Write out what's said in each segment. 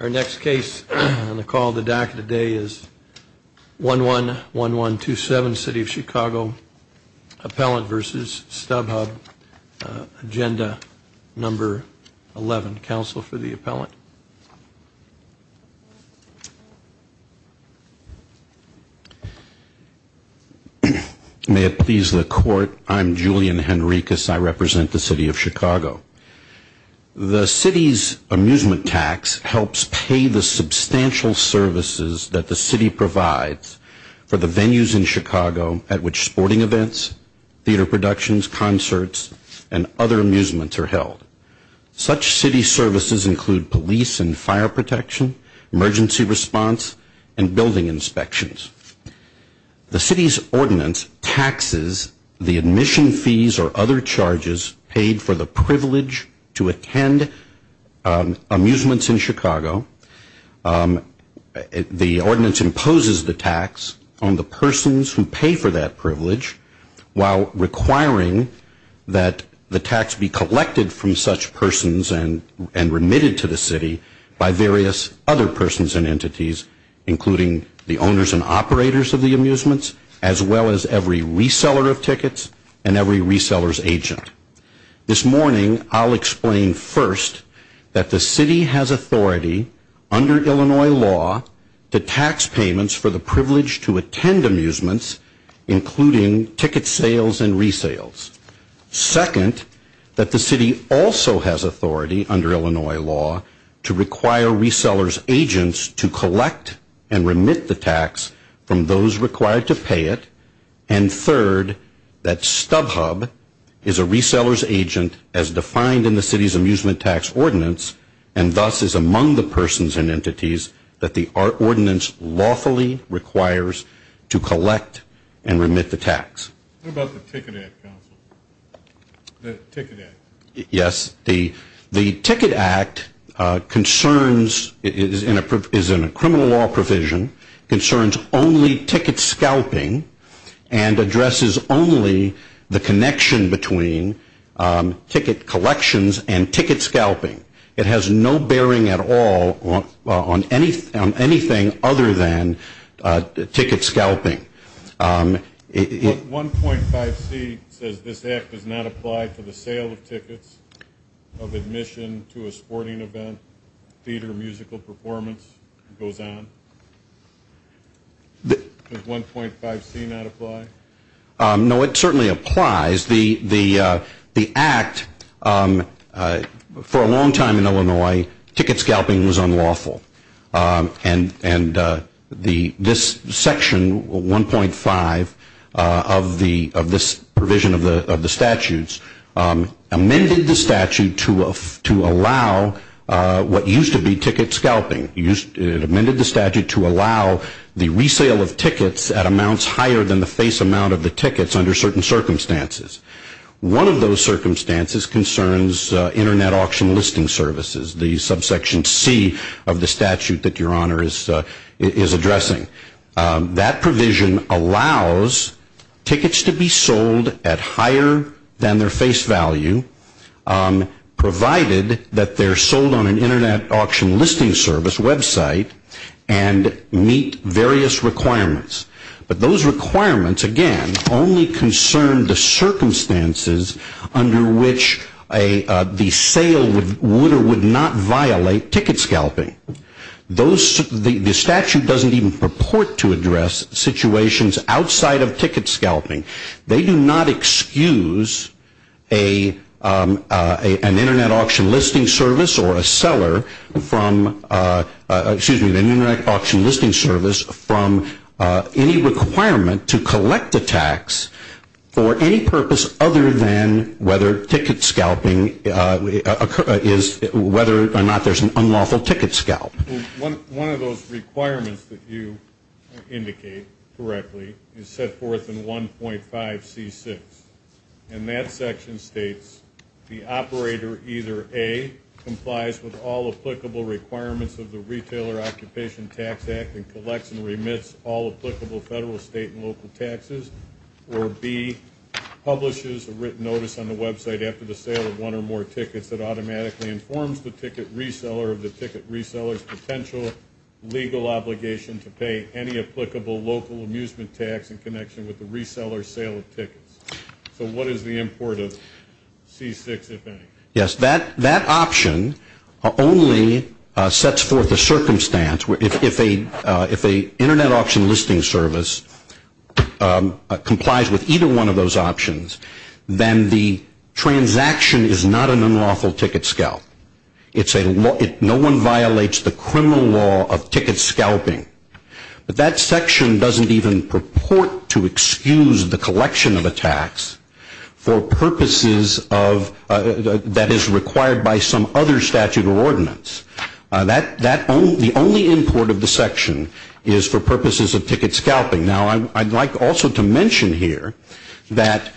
Our next case on the call to DACA today is 111127, City of Chicago, Appellant v. Stubhub!, Agenda No. 11. Counsel for the appellant. May it please the Court, I'm Julian Henricus. I represent the City of Chicago. The City's amusement tax helps pay the substantial services that the City provides for the venues in Chicago at which sporting events, theater productions, concerts, and other amusements are held. Such City services include police and fire protection, emergency response, and building inspections. The City's ordinance taxes the admission fees or other charges paid for the privilege to attend amusements in Chicago. The ordinance imposes the tax on the persons who pay for that privilege while requiring that the tax be collected from such persons and remitted to the City by various other persons and entities, including the owners and operators of the amusements, as well as every reseller of tickets and every reseller's agent. This morning I'll explain first that the City has authority under Illinois law to tax payments for the privilege to attend amusements, including ticket sales and resales. Second, that the City also has authority under Illinois law to require reseller's agents to collect and remit the tax from those required to pay it. And third, that Stubhub! is a reseller's agent as defined in the City's amusement tax ordinance and thus is among the persons and entities that the ordinance lawfully requires to collect and remit the tax. What about the Ticket Act? Yes, the Ticket Act is in a criminal law provision, concerns only ticket scalping, and addresses only the connection between ticket collections and ticket scalping. It has no bearing at all on anything other than ticket scalping. 1.5c says this act does not apply to the sale of tickets, of admission to a sporting event, theater, musical performance, and so on. Does 1.5c not apply? No, it certainly applies. The act, for a long time in Illinois, ticket scalping was unlawful. And this section 1.5 of this provision of the statutes amended the statute to allow what used to be ticket scalping. It amended the statute to allow the resale of tickets at amounts higher than the face amount of the tickets under certain circumstances. One of those circumstances concerns internet auction listing services, the subsection c of the statute that your honor is addressing. That provision allows tickets to be sold at higher than their face value provided that they're sold on an internet auction listing service website and meet various requirements. But those requirements, again, only concern the circumstances under which the sale would or would not violate ticket scalping. The statute doesn't even purport to address situations outside of ticket scalping. They do not excuse an internet auction listing service or a seller from, excuse me, an internet auction listing service from any requirement to collect a tax for any purpose other than whether ticket scalping is, whether or not there's an unlawful ticket scalp. One of those requirements that you indicate correctly is set forth in 1.5 C6. And that section states the operator either A, complies with all applicable requirements of the Retailer Occupation Tax Act and collects and remits all applicable federal, state, and local taxes. Or B, publishes a written notice on the website after the sale of one or more tickets that automatically informs the ticket reseller of the ticket reseller's potential legal obligation to pay any applicable local amusement tax in connection with the reseller's sale of tickets. So what is the import of C6, if any? Yes, that option only sets forth a circumstance where if an internet auction listing service complies with either one of those options, then the transaction is not an unlawful ticket scalp. No one violates the criminal law of ticket scalping. But that section doesn't even purport to excuse the collection of a tax for purposes that is required by some other statute or ordinance. The only import of the section is for purposes of ticket scalping. Now, I'd like also to mention here that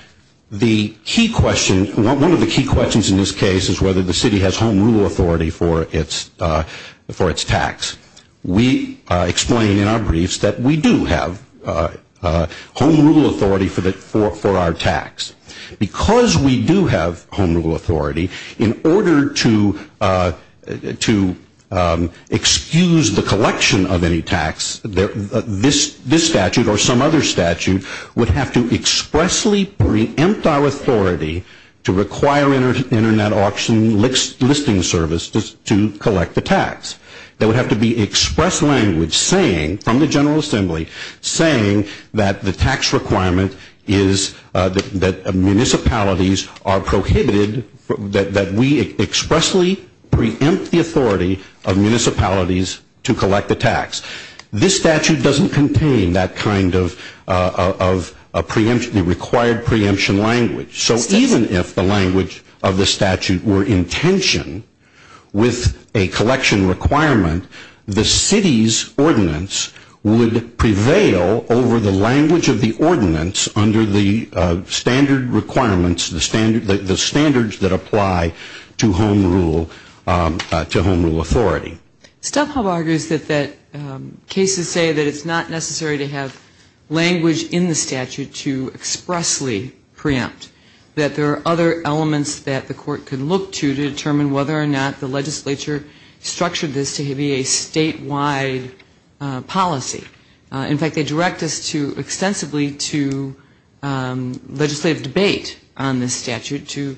the key question, one of the key questions in this case is whether the city has home rule authority for its tax. We explain in our briefs that we do have home rule authority for our tax. Because we do have home rule authority, in order to excuse the collection of any tax, this statute or some other statute would have to expressly preempt our authority to require an internet auction listing service to collect the tax. There would have to be express language saying, from the General Assembly, saying that the tax requirement is that municipalities are prohibited, that we expressly preempt the authority of municipalities to collect the tax. This statute doesn't contain that kind of preemption, the required preemption language. So even if the language of the statute were in tension with a collection requirement, the city's ordinance would prevail over the language of the ordinance under the standard requirements, the standards that apply to home rule authority. Stubhub argues that cases say that it's not necessary to have language in the statute to expressly preempt, that there are other elements that the court can look to to determine whether or not the legislature structured this to be a statewide policy. In fact, they direct us extensively to legislative debate on this statute to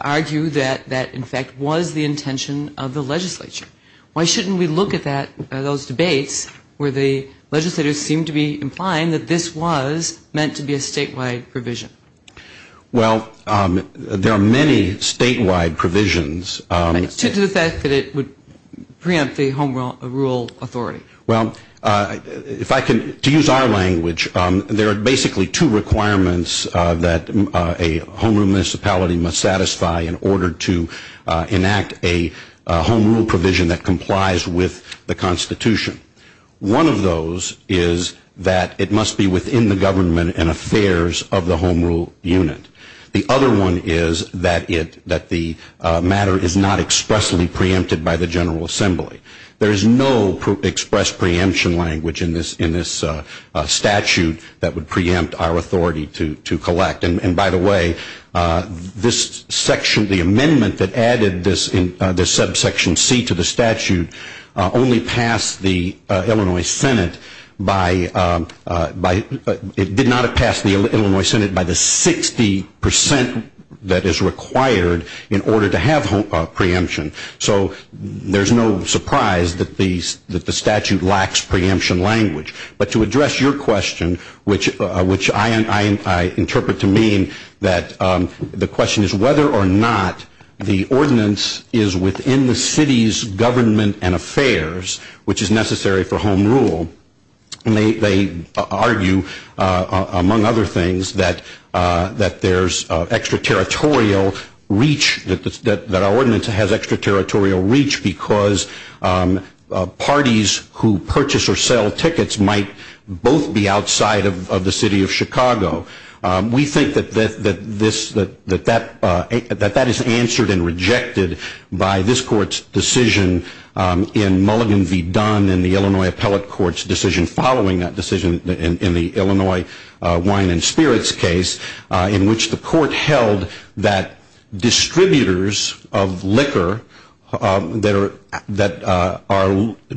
argue that that, in fact, was the intention of the legislature. Why shouldn't we look at those debates where the legislators seem to be implying that this was meant to be a statewide provision? Well, there are many statewide provisions. To the effect that it would preempt the home rule authority. Well, to use our language, there are basically two requirements that a home rule municipality must satisfy in order to enact a home rule provision that complies with the Constitution. One of those is that it must be within the government and affairs of the home rule unit. The other one is that the matter is not expressly preempted by the General Assembly. There is no expressed preemption language in this statute that would preempt our authority to collect. And by the way, this section, the amendment that added this subsection C to the statute only passed the Illinois Senate by, it did not have passed the Illinois Senate by the 60% that is required in order to have preemption. So there's no surprise that the statute lacks preemption language. But to address your question, which I interpret to mean that the question is whether or not the ordinance is within the city's government and affairs, which is necessary for home rule, they argue, among other things, that there's extraterritorial reach, that our ordinance has extraterritorial reach because parties who purchase or sell tickets might both be outside of the city of Chicago. We think that that is answered and rejected by this court's decision in Mulligan v. Dunn in the Illinois Appellate Court's decision following that decision in the Illinois Wine and Spirits case in which the court held that distributors of liquor that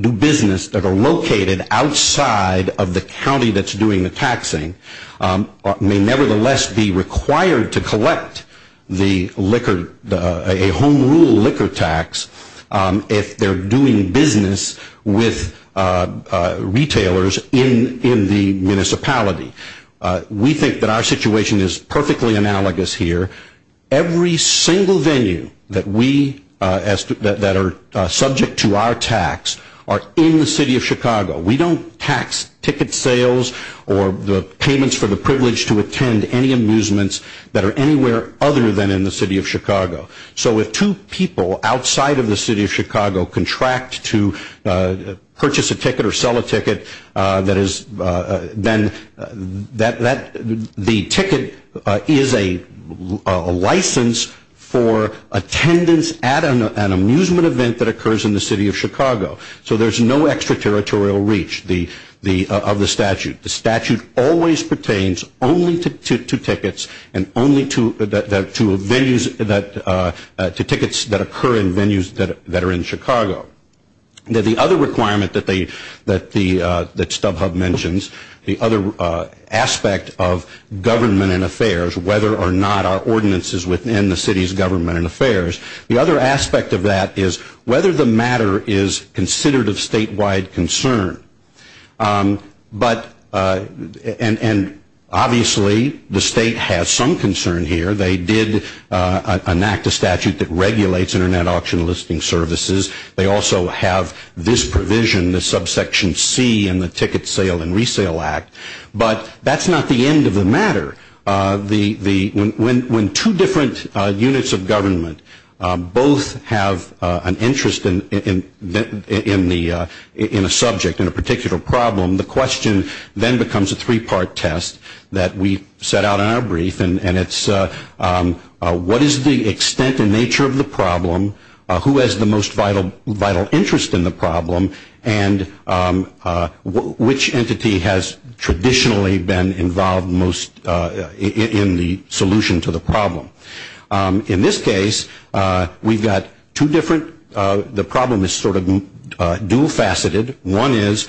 do business that are located outside of the county that's doing the taxing may nevertheless be required to collect a home rule liquor tax if they're doing business with retailers in the municipality. We think that our situation is perfectly analogous here. Every single venue that are subject to our tax are in the city of Chicago. We don't tax ticket sales or the payments for the privilege to attend any amusements that are anywhere other than in the city of Chicago. So if two people outside of the city of Chicago contract to purchase a ticket or sell a ticket, then the ticket is a license for attendance at an amusement event that occurs in the city of Chicago. So there's no extraterritorial reach of the statute. The statute always pertains only to tickets and only to tickets that occur in venues that are in Chicago. Now the other requirement that StubHub mentions, the other aspect of government and affairs, whether or not our ordinance is within the city's government and affairs, the other aspect of that is whether the matter is considered of statewide concern. And obviously the state has some concern here. They did enact a statute that regulates Internet auction listing services. They also have this provision, the subsection C in the Ticket Sale and Resale Act. But that's not the end of the matter. When two different units of government both have an interest in a subject, in a particular problem, the question then becomes a three-part test that we set out in our brief. And it's what is the extent and nature of the problem? Who has the most vital interest in the problem? And which entity has traditionally been involved most in the solution to the problem? In this case, we've got two different, the problem is sort of dual faceted. One is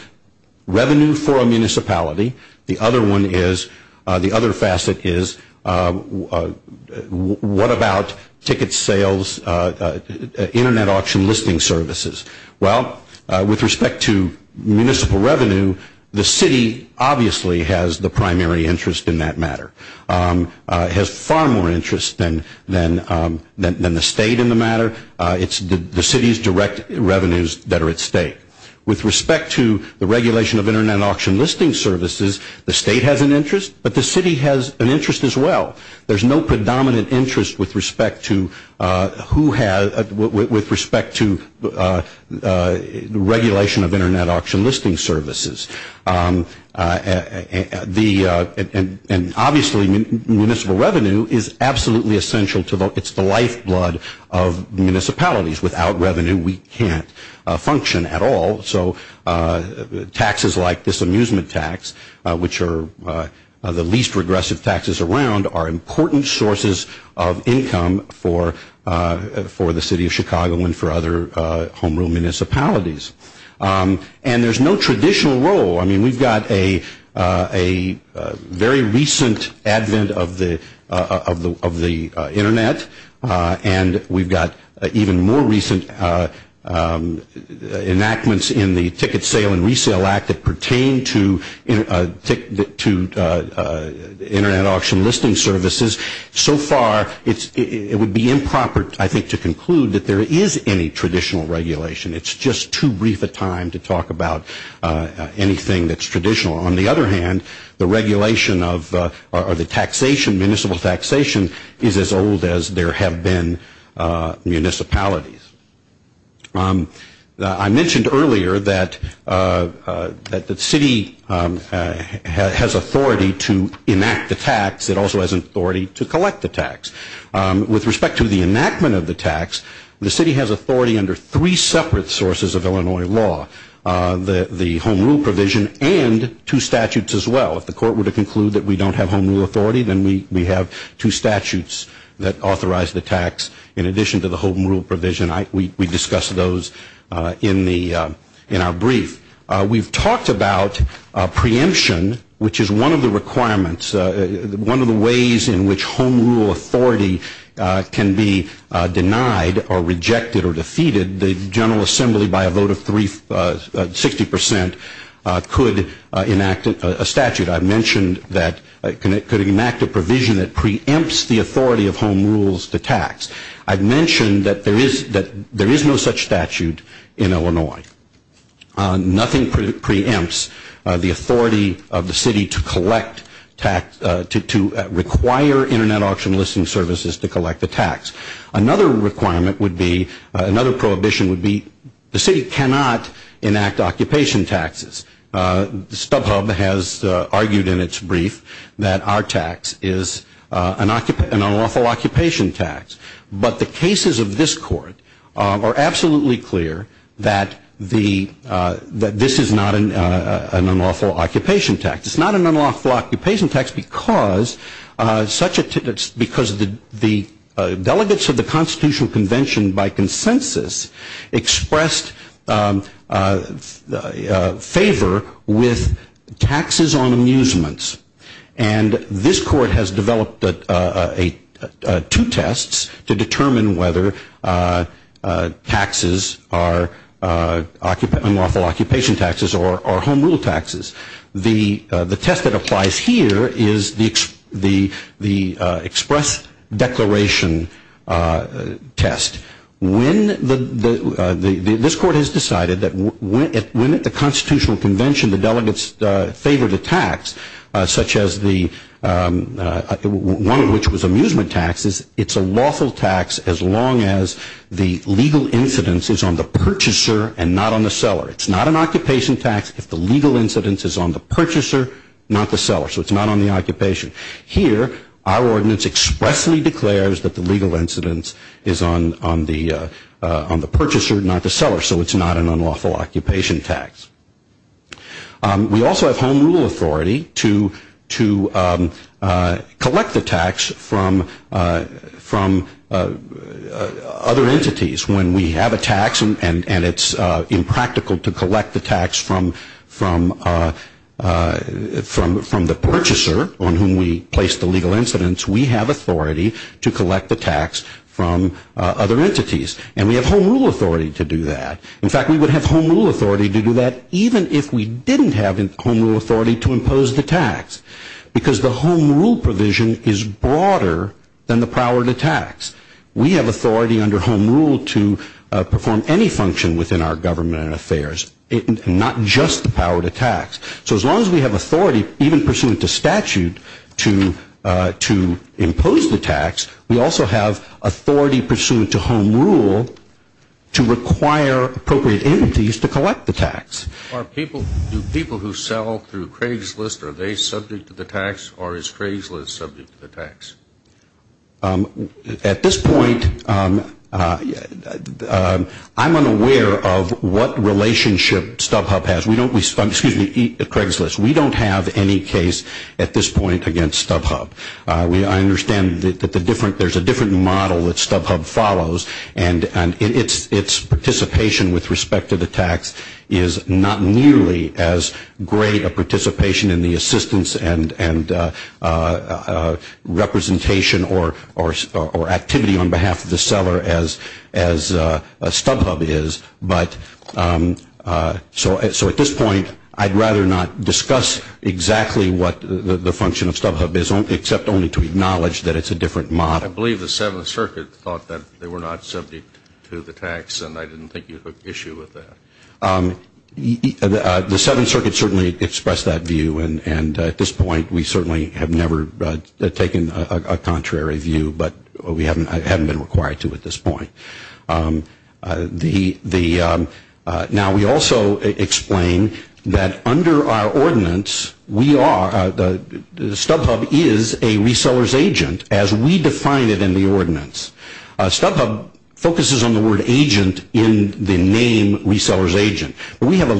revenue for a municipality. The other one is, the other facet is what about ticket sales, Internet auction listing services? Well, with respect to municipal revenue, the city obviously has the primary interest in that matter. It has far more interest than the state in the matter. It's the city's direct revenues that are at stake. With respect to the regulation of Internet auction listing services, the state has an interest, but the city has an interest as well. There's no predominant interest with respect to who has, with respect to regulation of Internet auction listing services. The, and obviously municipal revenue is absolutely essential to, it's the lifeblood of municipalities. Without revenue, we can't function at all. So taxes like this amusement tax, which are the least regressive taxes around, are important sources of income for the city of Chicago and for other home rule municipalities. And there's no traditional role. I mean, we've got a very recent advent of the Internet, and we've got even more recent enactments in the Ticket Sale and Resale Act that pertain to Internet auction listing services. So far, it would be improper, I think, to conclude that there is any traditional regulation. It's just too brief a time to talk about anything that's traditional. On the other hand, the regulation of, or the taxation, municipal taxation, is as old as there have been municipalities. I mentioned earlier that the city has authority to enact the tax. It also has authority to collect the tax. With respect to the enactment of the tax, the city has authority under three separate sources of Illinois law, the home rule provision and two statutes as well. If the court were to conclude that we don't have home rule authority, then we have two statutes that authorize the tax in addition to the home rule provision. We discuss those in the, in our brief. We've talked about preemption, which is one of the requirements, one of the ways in which home rule authority can be denied or rejected or defeated. The General Assembly, by a vote of 60 percent, could enact a statute. I mentioned that it could enact a provision that preempts the authority of home rules to tax. I've mentioned that there is no such statute in Illinois. Nothing preempts the authority of the city to collect tax, to require Internet auction listing services to collect the tax. Another requirement would be, another prohibition would be, the city cannot enact occupation taxes. StubHub has argued in its brief that our tax is an unlawful occupation tax. But the cases of this court are absolutely clear that this is not an unlawful occupation tax. It's not an unlawful occupation tax because the delegates of the Constitutional Convention, by consensus, expressed favor with taxes on amusements. And this court has developed two tests to determine whether taxes are unlawful occupation taxes or home rule taxes. The test that applies here is the express declaration test. When the, this court has decided that when at the Constitutional Convention the delegates favored a tax, such as the, one of which was amusement taxes, it's a lawful tax as long as the legal incidence is on the purchaser and not on the seller. It's not an occupation tax if the legal incidence is on the purchaser, not the seller. So it's not on the occupation. Here, our ordinance expressly declares that the legal incidence is on the purchaser, not the seller. So it's not an unlawful occupation tax. We also have home rule authority to collect the tax from other entities. When we have a tax and it's impractical to collect the tax from the purchaser on whom we place the legal incidence, we have authority to collect the tax from other entities. And we have home rule authority to do that. In fact, we would have home rule authority to do that even if we didn't have home rule authority to impose the tax. Because the home rule provision is broader than the power to tax. We have authority under home rule to perform any function within our government and affairs, not just the power to tax. So as long as we have authority, even pursuant to statute, to impose the tax, we also have authority pursuant to home rule to require appropriate entities to collect the tax. Do people who sell through Craigslist, are they subject to the tax, or is Craigslist subject to the tax? At this point, I'm unaware of what relationship StubHub has. We don't, excuse me, Craigslist, we don't have any case at this point against StubHub. I understand that there's a different model that StubHub follows, and its participation with respect to the tax is not nearly as great a participation in the assistance and representation or activity on behalf of the seller as StubHub is. But so at this point, I'd rather not discuss exactly what the function of StubHub is, except only to acknowledge that it's a different model. I believe the Seventh Circuit thought that they were not subject to the tax, and I didn't think you had an issue with that. The Seventh Circuit certainly expressed that view, and at this point we certainly have never taken a contrary view, but we haven't been required to at this point. Now, we also explain that under our ordinance, StubHub is a reseller's agent, as we define it in the ordinance. StubHub focuses on the word agent in the name reseller's agent. We have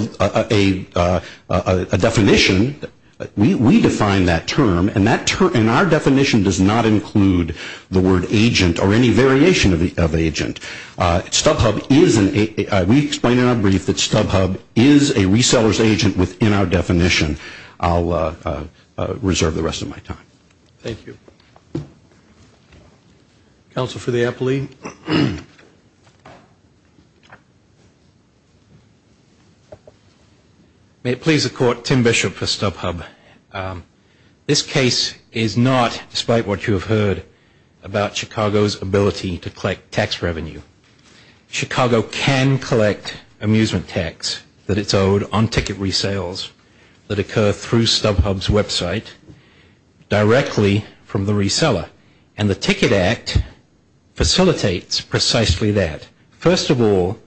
a definition, we define that term, and our definition does not include the word agent or any variation of agent. StubHub is an agent. We explain in our brief that StubHub is a reseller's agent within our definition. I'll reserve the rest of my time. Thank you. Counsel for the appellee. May it please the Court, Tim Bishop for StubHub. This case is not, despite what you have heard, about Chicago's ability to collect tax revenue. Chicago can collect amusement tax that it's owed on ticket resales that occur through StubHub's website directly from the reseller, and the Ticket Act facilitates precisely that. First of all,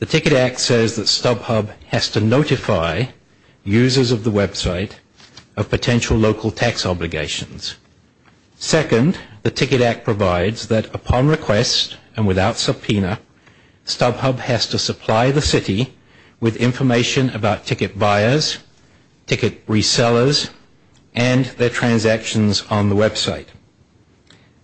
the Ticket Act says that StubHub has to notify users of the website of potential local tax obligations. Second, the Ticket Act provides that upon request and without subpoena, StubHub has to supply the city with information about ticket buyers, ticket resellers, and their transactions on the website.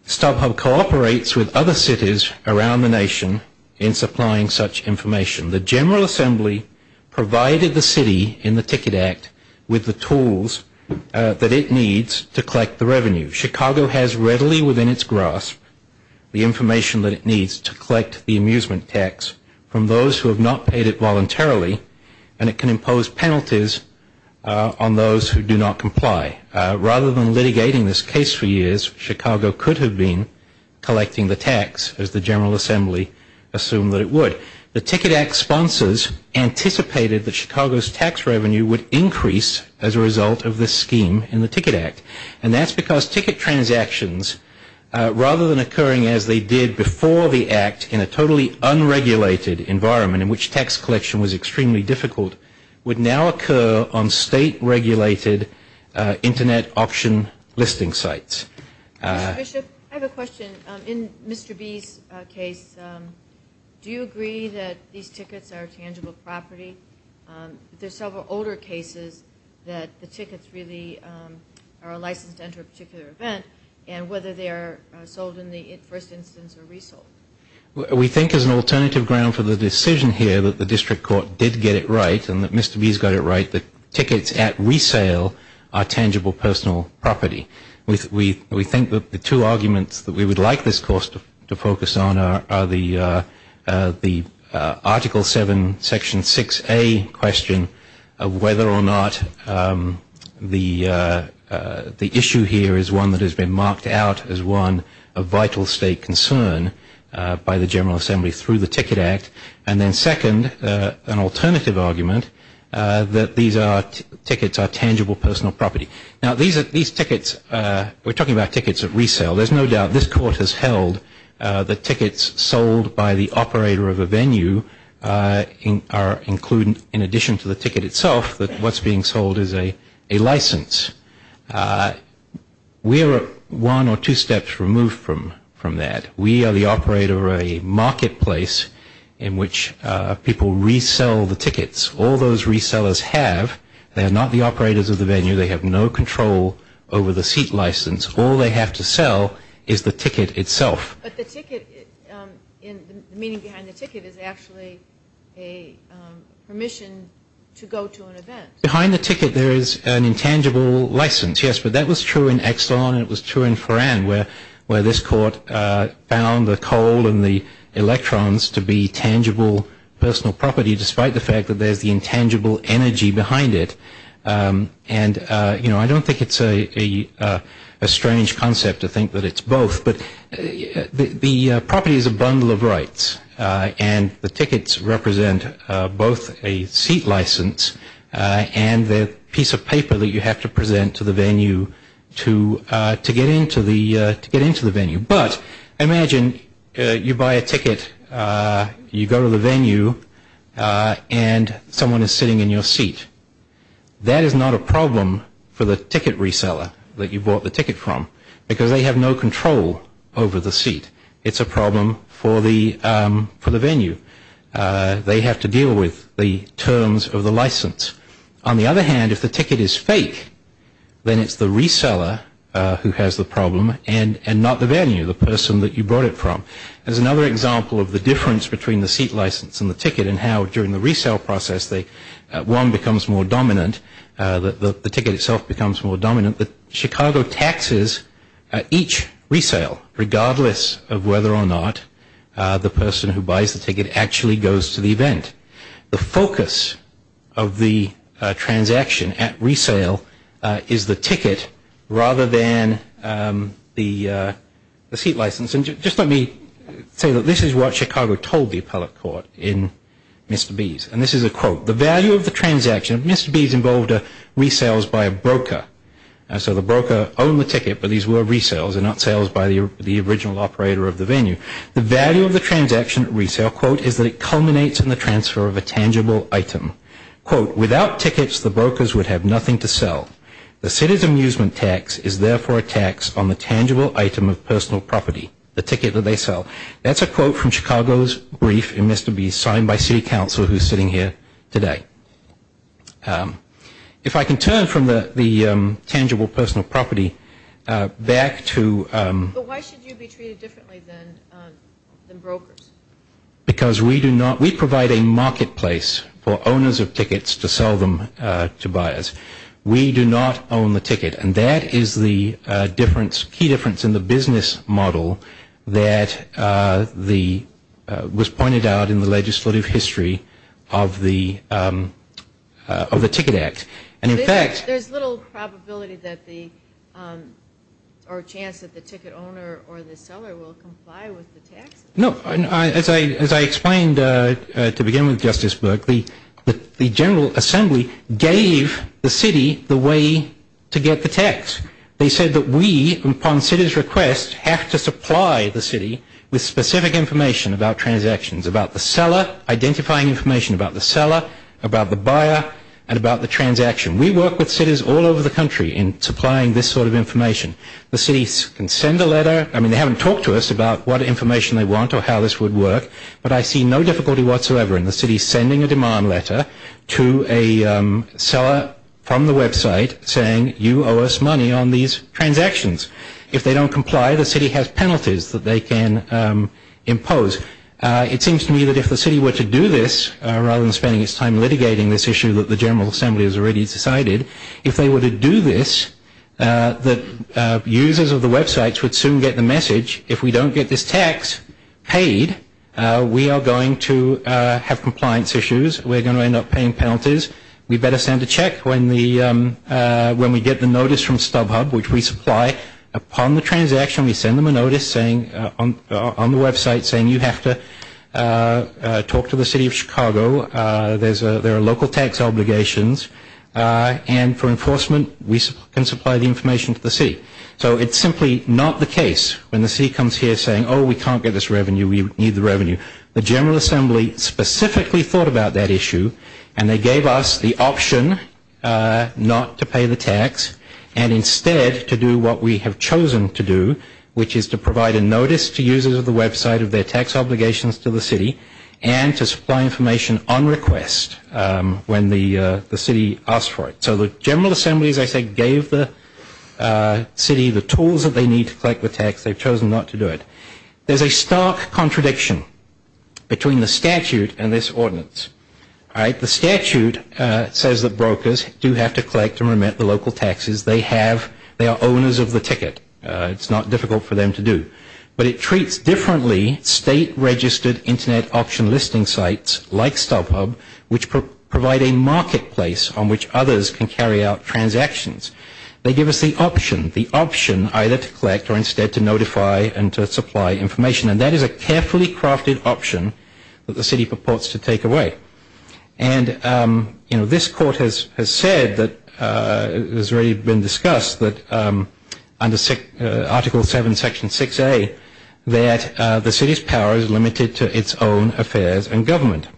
StubHub cooperates with other cities around the nation in supplying such information. The General Assembly provided the city in the Ticket Act with the tools that it needs to collect the revenue. Chicago has readily within its grasp the information that it needs to collect the amusement tax from those who have not paid it voluntarily, and it can impose penalties on those who do not comply. Rather than litigating this case for years, Chicago could have been collecting the tax, as the General Assembly assumed that it would. The Ticket Act sponsors anticipated that Chicago's tax revenue would increase as a result of this scheme in the Ticket Act, and that's because ticket transactions, rather than occurring as they did before the Act in a totally unregulated environment in which tax collection was extremely difficult, would now occur on state-regulated Internet auction listing sites. Mr. Bishop, I have a question. In Mr. B's case, do you agree that these tickets are tangible property? There are several older cases that the tickets really are licensed to enter a particular event, and whether they are sold in the first instance or resold. We think as an alternative ground for the decision here that the District Court did get it right, and that Mr. B's got it right, that tickets at resale are tangible personal property. We think that the two arguments that we would like this course to focus on are the Article 7, Section 6A question of whether or not the issue here is one that has been marked out as one of vital state concern by the General Assembly through the Ticket Act, and then second, an alternative argument that these tickets are tangible personal property. Now, these tickets, we're talking about tickets at resale. There's no doubt this Court has held that tickets sold by the operator of a venue are included in addition to the ticket itself, that what's being sold is a license. We are one or two steps removed from that. We are the operator of a marketplace in which people resell the tickets. All those resellers have, they are not the operators of the venue, they have no control over the seat license. All they have to sell is the ticket itself. But the ticket, the meaning behind the ticket is actually a permission to go to an event. Behind the ticket there is an intangible license, yes, but that was true in Exxon and it was true in Foran, where this Court found the coal and the electrons to be tangible personal property, despite the fact that there's the intangible energy behind it. I don't think it's a strange concept to think that it's both, but the property is a bundle of rights and the tickets represent both a seat license and the piece of paper that you have to present to the venue to get into the venue. But imagine you buy a ticket, you go to the venue and someone is sitting in your seat. That is not a problem for the ticket reseller that you bought the ticket from, because they have no control over the seat. It's a problem for the venue. They have to deal with the terms of the license. On the other hand, if the ticket is fake, then it's the reseller who has the problem and not the venue, the person that you brought it from. There's another example of the difference between the seat license and the ticket and how during the resale process one becomes more dominant, the ticket itself becomes more dominant. Chicago taxes each resale, regardless of whether or not the person who buys the ticket actually goes to the event. The focus of the transaction at resale is the ticket rather than the seat license. And just let me say that this is what Chicago told the appellate court in Mr. B's. And this is a quote. The value of the transaction, Mr. B's involved resales by a broker. So the broker owned the ticket, but these were resales and not sales by the original operator of the venue. The value of the transaction at resale, quote, is that it culminates in the transfer of a tangible item. Quote, without tickets, the brokers would have nothing to sell. The citizen amusement tax is therefore a tax on the tangible item of personal property, the ticket that they sell. That's a quote from Chicago's brief in Mr. B's signed by city council who's sitting here today. If I can turn from the tangible personal property back to... But why should you be treated differently than brokers? Because we do not, we provide a marketplace for owners of tickets to sell them to buyers. We do not own the ticket. And that is the difference, key difference in the business model that was pointed out in the legislative history of the Ticket Act. And in fact... There's little probability that the, or chance that the ticket owner or the seller will comply with the tax? No. As I explained to begin with, Justice Berkley, the general assembly gave the city the way to get the tax. They said that we, upon city's request, have to supply the city with specific information about transactions, about the seller, identifying information about the seller, about the buyer, and about the transaction. We work with cities all over the country in supplying this sort of information. The city can send a letter. I mean, they haven't talked to us about what information they want or how this would work, but I see no difficulty whatsoever in the city sending a demand letter to a seller from the website saying, you owe us money on these transactions. If they don't comply, the city has penalties that they can impose. It seems to me that if the city were to do this, rather than spending its time litigating this issue that the general assembly has already decided, if they were to do this, that users of the websites would soon get the message, if we don't get this tax paid, we are going to have compliance issues. We're going to end up paying penalties. We better send a check when we get the notice from StubHub, which we supply. Upon the transaction, we send them a notice on the website saying, you have to talk to the city of Chicago. There are local tax obligations. And for enforcement, we can supply the information to the city. So it's simply not the case when the city comes here saying, oh, we can't get this revenue. We need the revenue. The general assembly specifically thought about that issue, and they gave us the option not to pay the tax and instead to do what we have chosen to do, which is to provide a notice to users of the website of their tax obligations to the city and to supply information on request when the city asks for it. So the general assembly, as I said, gave the city the tools that they need to collect the tax. They've chosen not to do it. The statute says that brokers do have to collect and remit the local taxes they have. They are owners of the ticket. It's not difficult for them to do. But it treats differently state-registered Internet option listing sites like StubHub, which provide a marketplace on which others can carry out transactions. They give us the option, the option either to collect or instead to notify and to supply information. And that is a carefully crafted option that the city purports to take away. And, you know, this court has said that it has already been discussed that under Article 7, Section 6A, that the city's power is limited to its own affairs and government.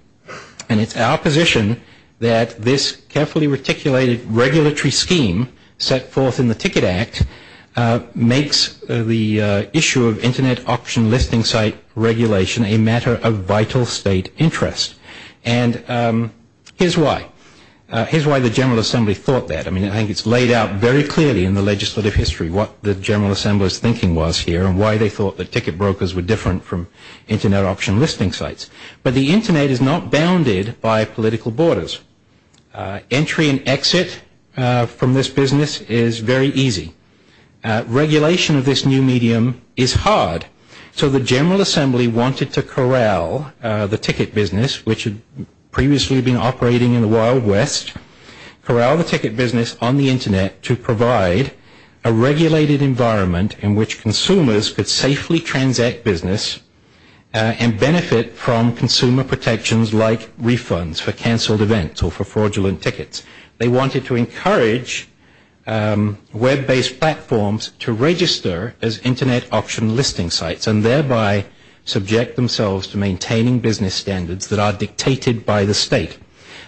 And it's our position that this carefully reticulated regulatory scheme set forth in the Ticket Act makes the issue of Internet option listing site regulation a matter of vital state interest. And here's why. Here's why the General Assembly thought that. I mean, I think it's laid out very clearly in the legislative history what the General Assembly's thinking was here and why they thought that ticket brokers were different from Internet option listing sites. But the Internet is not bounded by political borders. Entry and exit from this business is very easy. Regulation of this new medium is hard. So the General Assembly wanted to corral the ticket business, which had previously been operating in the Wild West, corral the ticket business on the Internet to provide a regulated environment in which consumers could safely transact business and benefit from consumer protections like refunds for canceled events or for fraudulent tickets. They wanted to encourage web-based platforms to register as Internet option listing sites and thereby subject themselves to maintaining business standards that are dictated by the state.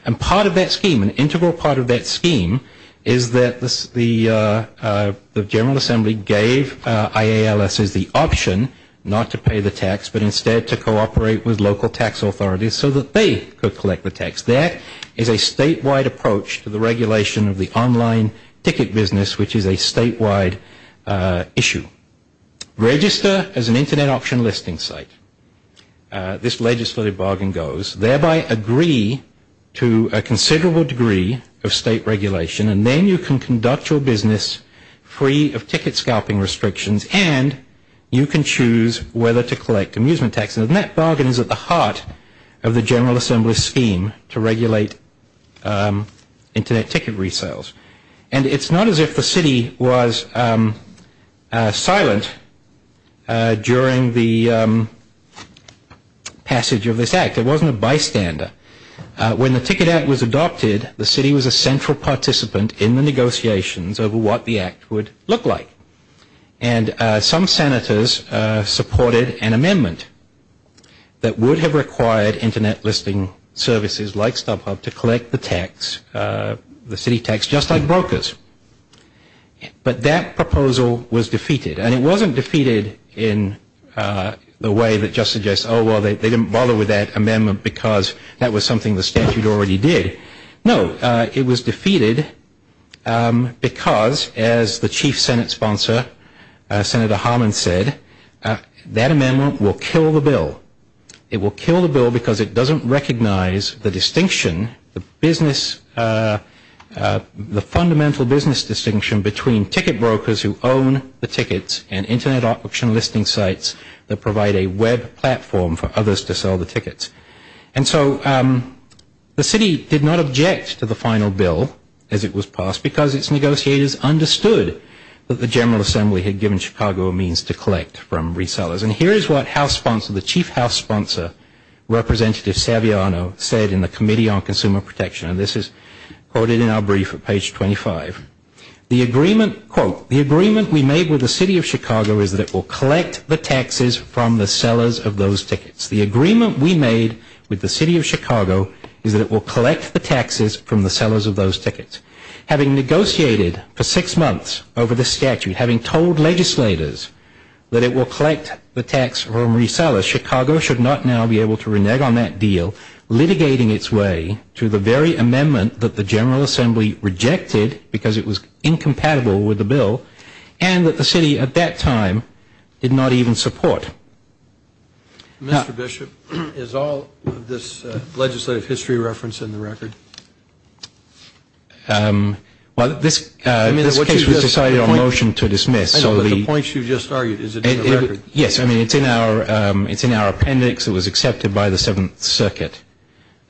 And part of that scheme, an integral part of that scheme, is that the General Assembly gave IALS the option not to pay the tax but instead to cooperate with local tax authorities so that they could collect the tax. That is a statewide approach to the regulation of the online ticket business, which is a statewide issue. Register as an Internet option listing site, this legislative bargain goes, thereby agree to a considerable degree of state regulation, and then you can conduct your business free of ticket scalping restrictions and you can choose whether to collect amusement taxes. And that bargain is at the heart of the General Assembly's scheme to regulate Internet ticket resales. And it's not as if the city was silent during the passage of this act. In fact, it wasn't a bystander. When the Ticket Act was adopted, the city was a central participant in the negotiations over what the act would look like. And some senators supported an amendment that would have required Internet listing services like StubHub to collect the tax, the city tax, just like brokers. But that proposal was defeated. And it wasn't defeated in the way that just suggests, oh, well, they didn't bother with that amendment because that was something the statute already did. No, it was defeated because, as the Chief Senate Sponsor, Senator Harman, said, that amendment will kill the bill. It will kill the bill because it doesn't recognize the distinction, the fundamental business distinction between ticket brokers who own the tickets and Internet auction listing sites that provide a web platform for others to sell the tickets. And so the city did not object to the final bill as it was passed because its negotiators understood that the General Assembly had given Chicago a means to collect from resellers. And here is what House Sponsor, the Chief House Sponsor, Representative Saviano, said in the Committee on Consumer Protection. And this is quoted in our brief at page 25. The agreement, quote, the agreement we made with the city of Chicago is that it will collect the taxes from the sellers of those tickets. The agreement we made with the city of Chicago is that it will collect the taxes from the sellers of those tickets. Having negotiated for six months over the statute, having told legislators that it will collect the tax from resellers, Chicago should not now be able to renege on that deal, litigating its way to the very amendment that the General Assembly rejected because it was incompatible with the bill and that the city at that time did not even support. Mr. Bishop, is all of this legislative history reference in the record? Well, this case was decided on a motion to dismiss. I know, but the points you just argued, is it in the record? Yes, I mean, it's in our appendix. It was accepted by the Seventh Circuit.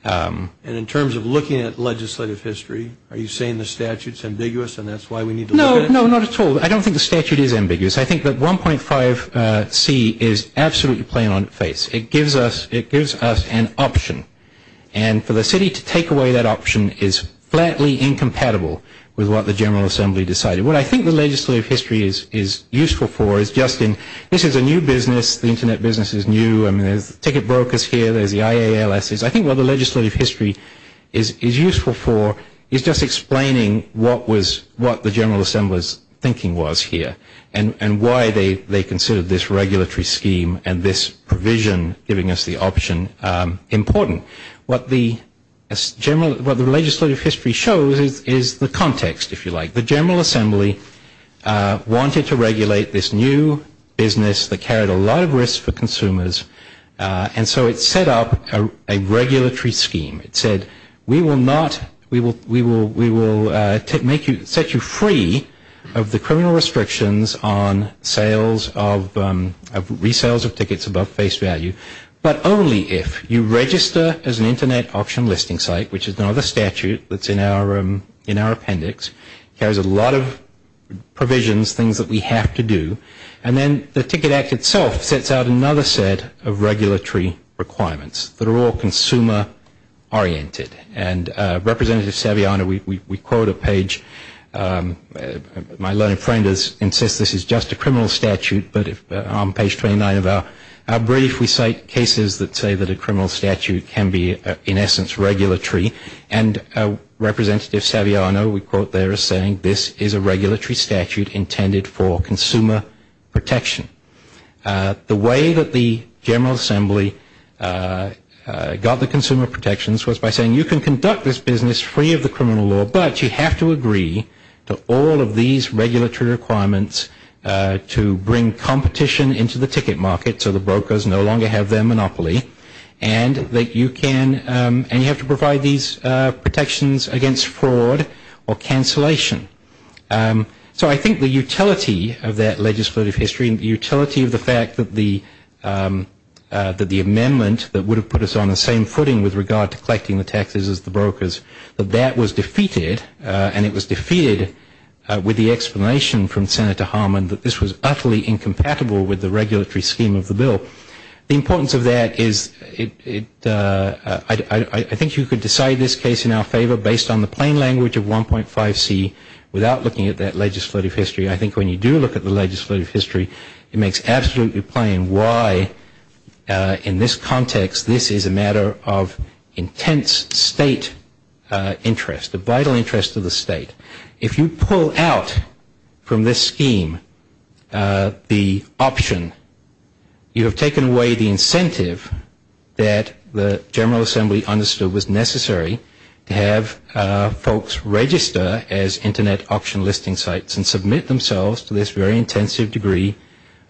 And in terms of looking at legislative history, are you saying the statute is ambiguous and that's why we need to look at it? No, not at all. I don't think the statute is ambiguous. I think that 1.5C is absolutely plain on its face. It gives us an option. And for the city to take away that option is flatly incompatible with what the General Assembly decided. What I think the legislative history is useful for is just in this is a new business. The Internet business is new. I mean, there's ticket brokers here. There's the IALS. I think what the legislative history is useful for is just explaining what the General Assembly's thinking was here. And why they considered this regulatory scheme and this provision giving us the option important. What the legislative history shows is the context, if you like. The General Assembly wanted to regulate this new business that carried a lot of risk for consumers. And so it set up a regulatory scheme. It said, we will set you free of the criminal restrictions on resales of tickets above face value, but only if you register as an Internet option listing site, which is another statute that's in our appendix. It carries a lot of provisions, things that we have to do. And then the Ticket Act itself sets out another set of regulatory requirements that are all consumer-oriented. And Representative Saviano, we quote a page. My learned friend insists this is just a criminal statute, but on page 29 of our brief, we cite cases that say that a criminal statute can be, in essence, regulatory. And Representative Saviano, we quote there, is saying this is a regulatory statute intended for consumer protection. The way that the General Assembly got the consumer protections was by saying you can conduct this business free of the criminal law, but you have to agree to all of these regulatory requirements to bring competition into the ticket market so the brokers no longer have their monopoly. And that you can, and you have to provide these protections against fraud or cancellation. So I think the utility of that legislative history, and the utility of the fact that the amendment that would have put us on the same footing with regard to collecting the taxes as the brokers, that that was defeated, and it was defeated with the explanation from Senator Harman that this was utterly incompatible with the regulatory scheme of the bill. The importance of that is I think you could decide this case in our favor based on the plain language of 1.5C without looking at that legislative history. I think when you do look at the legislative history, it makes absolutely plain why, in this context, this is a matter of intense state interest, a vital interest to the state. If you pull out from this scheme the option, you have taken away the incentive that the General Assembly understood was necessary to have folks register as Internet auction listing sites and submit themselves to this very intensive degree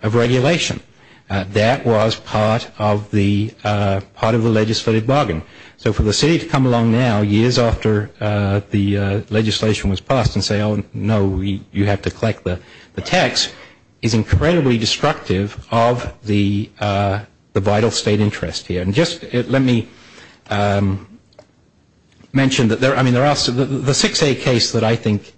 of regulation. That was part of the legislative bargain. So for the city to come along now years after the legislation was passed and say, oh, no, you have to collect the tax, is incredibly destructive of the vital state interest here. And just let me mention that the 6A case that I think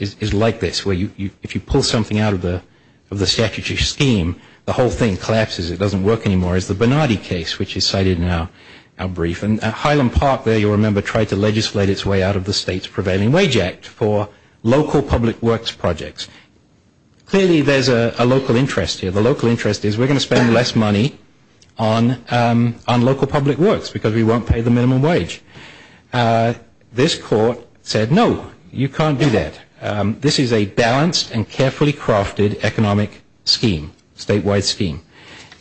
is like this, where if you pull something out of the statutory scheme, the whole thing collapses. It doesn't work anymore, is the Bernardi case, which is cited in our brief. And Highland Park there, you'll remember, tried to legislate its way out of the state's prevailing wage act for local public works projects. Clearly, there's a local interest here. The local interest is we're going to spend less money on local public works because we won't pay the minimum wage. This court said, no, you can't do that. This is a balanced and carefully crafted economic scheme, statewide scheme.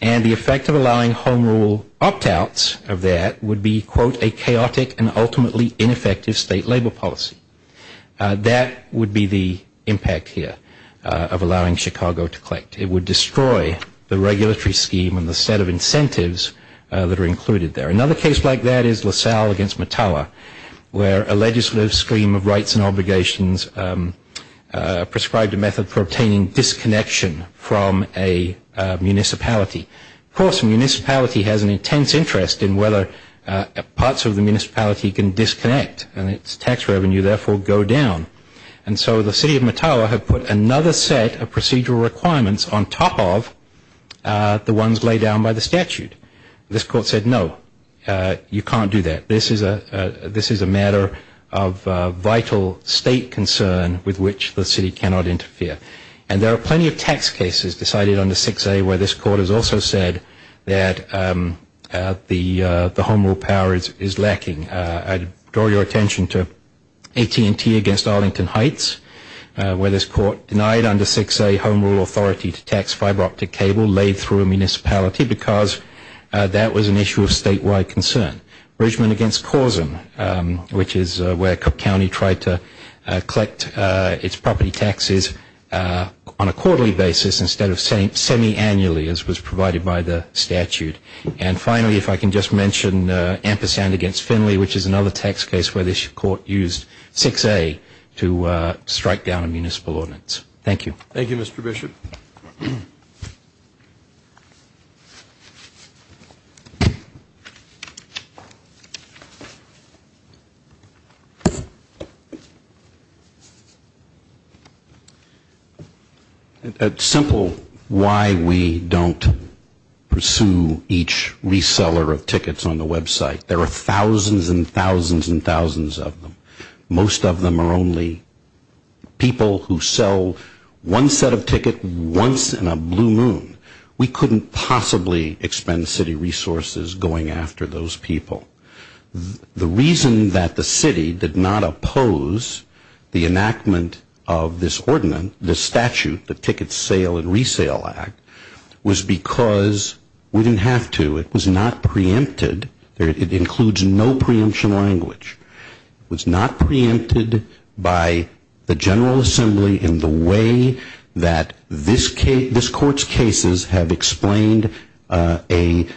And the effect of allowing home rule opt-outs of that would be, quote, a chaotic and ultimately ineffective state labor policy. That would be the impact here of allowing Chicago to collect. It would destroy the regulatory scheme and the set of incentives that are included there. Another case like that is LaSalle against Mattawa, where a legislative scheme of rights and obligations prescribed a method for obtaining disconnection from a municipality. Of course, a municipality has an intense interest in whether parts of the municipality can disconnect, and its tax revenue therefore go down. And so the city of Mattawa had put another set of procedural requirements on top of the ones laid down by the statute. This court said, no, you can't do that. This is a matter of vital state concern with which the city cannot interfere. And there are plenty of tax cases decided under 6A where this court has also said that the home rule power is lacking. I draw your attention to AT&T against Arlington Heights, where this court denied under 6A home rule authority to tax fiber optic cable laid through a municipality because that was an issue of statewide concern. Bridgeman against Causen, which is where Cook County tried to collect its property taxes on a quarterly basis instead of semi-annually, as was provided by the statute. And finally, if I can just mention Ampersand against Finley, which is another tax case where this court used 6A to strike down a municipal ordinance. Thank you. Thank you, Mr. Bishop. It's simple why we don't pursue each reseller of tickets on the website. There are thousands and thousands and thousands of them. Most of them are only people who sell one set of tickets once in a blue moon. We couldn't possibly expend city resources going after those people. The reason that the city did not oppose the enactment of this ordinance, this statute, the Ticket Sale and Resale Act, was because we didn't have to. It was not preempted. It includes no preemption language. It was not preempted by the General Assembly in the way that this court's cases have explained a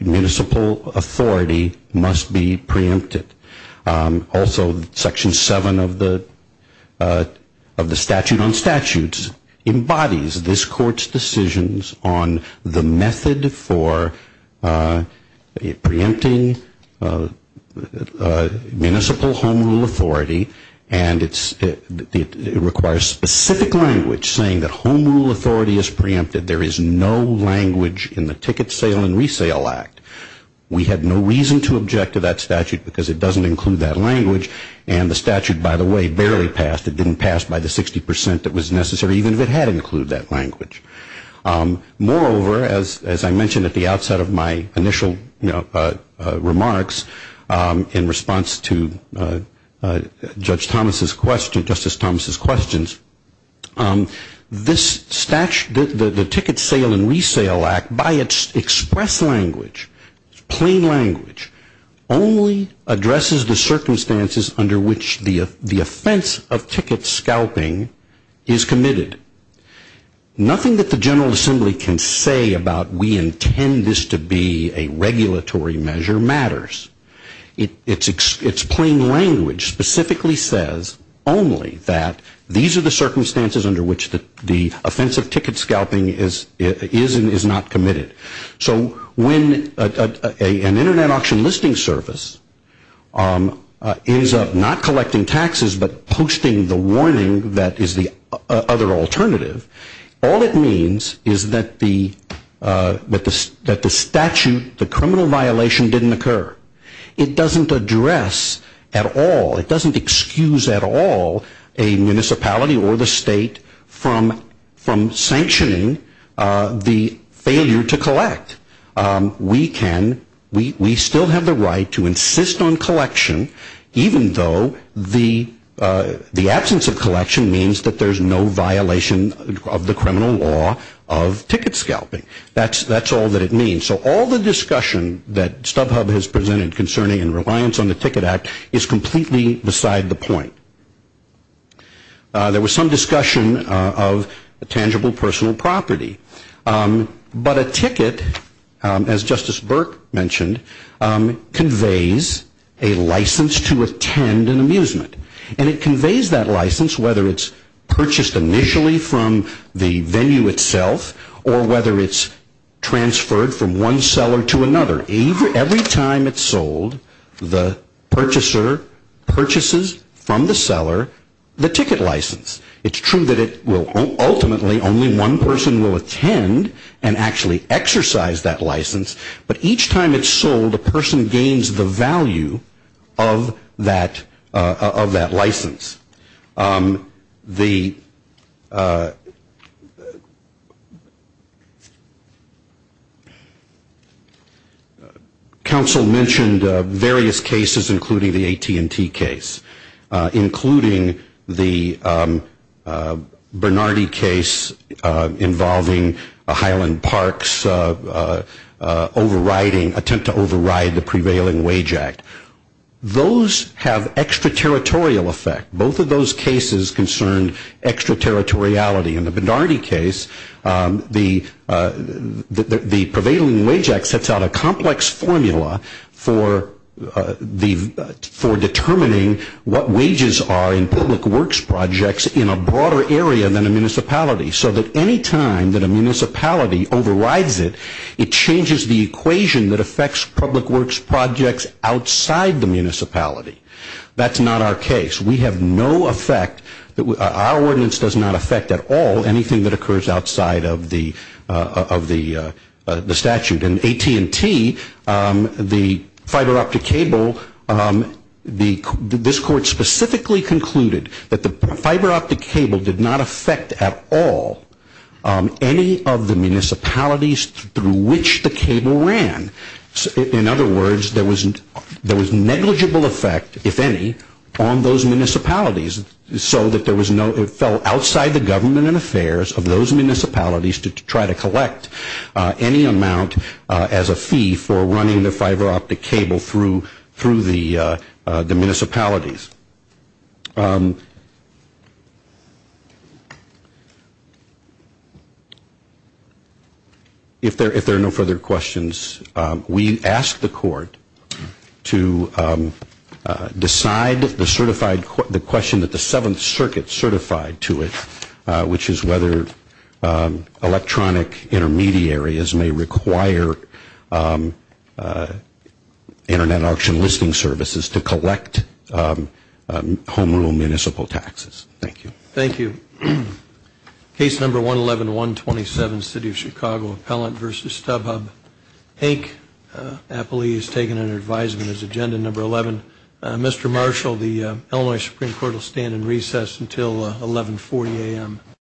municipal authority must be preempted. Also, Section 7 of the Statute on Statutes embodies this court's decisions on the method for preempting municipal home rule authority, and it requires specific language saying that home rule authority is preempted. There is no language in the Ticket Sale and Resale Act. We had no reason to object to that statute because it doesn't include that language. And the statute, by the way, barely passed. It didn't pass by the 60 percent that was necessary even if it had included that language. Moreover, as I mentioned at the outset of my initial remarks in response to Judge Thomas's question, this statute, the Ticket Sale and Resale Act, by its express language, plain language, only addresses the circumstances under which the offense of ticket scalping is committed. Nothing that the General Assembly can say about we intend this to be a regulatory measure matters. Its plain language specifically says only that these are the circumstances under which the offense of ticket scalping is and is not committed. So when an Internet auction listing service ends up not collecting taxes but posting the warning that is the other alternative, all it means is that the statute, the criminal violation didn't occur. It doesn't address at all, it doesn't excuse at all a municipality or the state from sanctioning the failure to collect. We can, we still have the right to insist on collection even though the absence of collection means that there's no violation of the criminal law of ticket scalping. That's all that it means. So all the discussion that StubHub has presented concerning and reliance on the Ticket Act is completely beside the point. There was some discussion of tangible personal property. But a ticket, as Justice Burke mentioned, conveys a license to attend an amusement. And it conveys that license whether it's purchased initially from the venue itself or whether it's transferred from one seller to another. Every time it's sold, the purchaser purchases from the seller the ticket license. It's true that it will ultimately, only one person will attend and actually exercise that license. But each time it's sold, a person gains the value of that license. The council mentioned various cases including the AT&T case, including the Bernardi case involving Highland Park's overriding, attempt to override the prevailing wage act. Those have extraterritorial effect. Both of those cases concern extraterritoriality. In the Bernardi case, the prevailing wage act sets out a complex formula for determining what wages are in public works projects in a broader area than a municipality. So that any time that a municipality overrides it, it changes the equation that affects public works projects outside the municipality. That's not our case. We have no effect. Our ordinance does not affect at all anything that occurs outside of the statute. AT&T, the fiber optic cable, this court specifically concluded that the fiber optic cable did not affect at all any of the municipalities through which the cable ran. In other words, there was negligible effect, if any, on those municipalities. So that there was no, it fell outside the government and affairs of those municipalities to try to collect any amount as a fee for running the fiber optic cable through the municipalities. If there are no further questions, we ask the court to decide the certified, the question that the Seventh Circuit certified to it, which is whether electronic intermediaries may require Internet auction listing services to collect a certain amount of money. So that's our case. Thank you. Case number 111-127, City of Chicago Appellant v. StubHub. Mr. Marshall, the Illinois Supreme Court will stand in recess until 1140 a.m.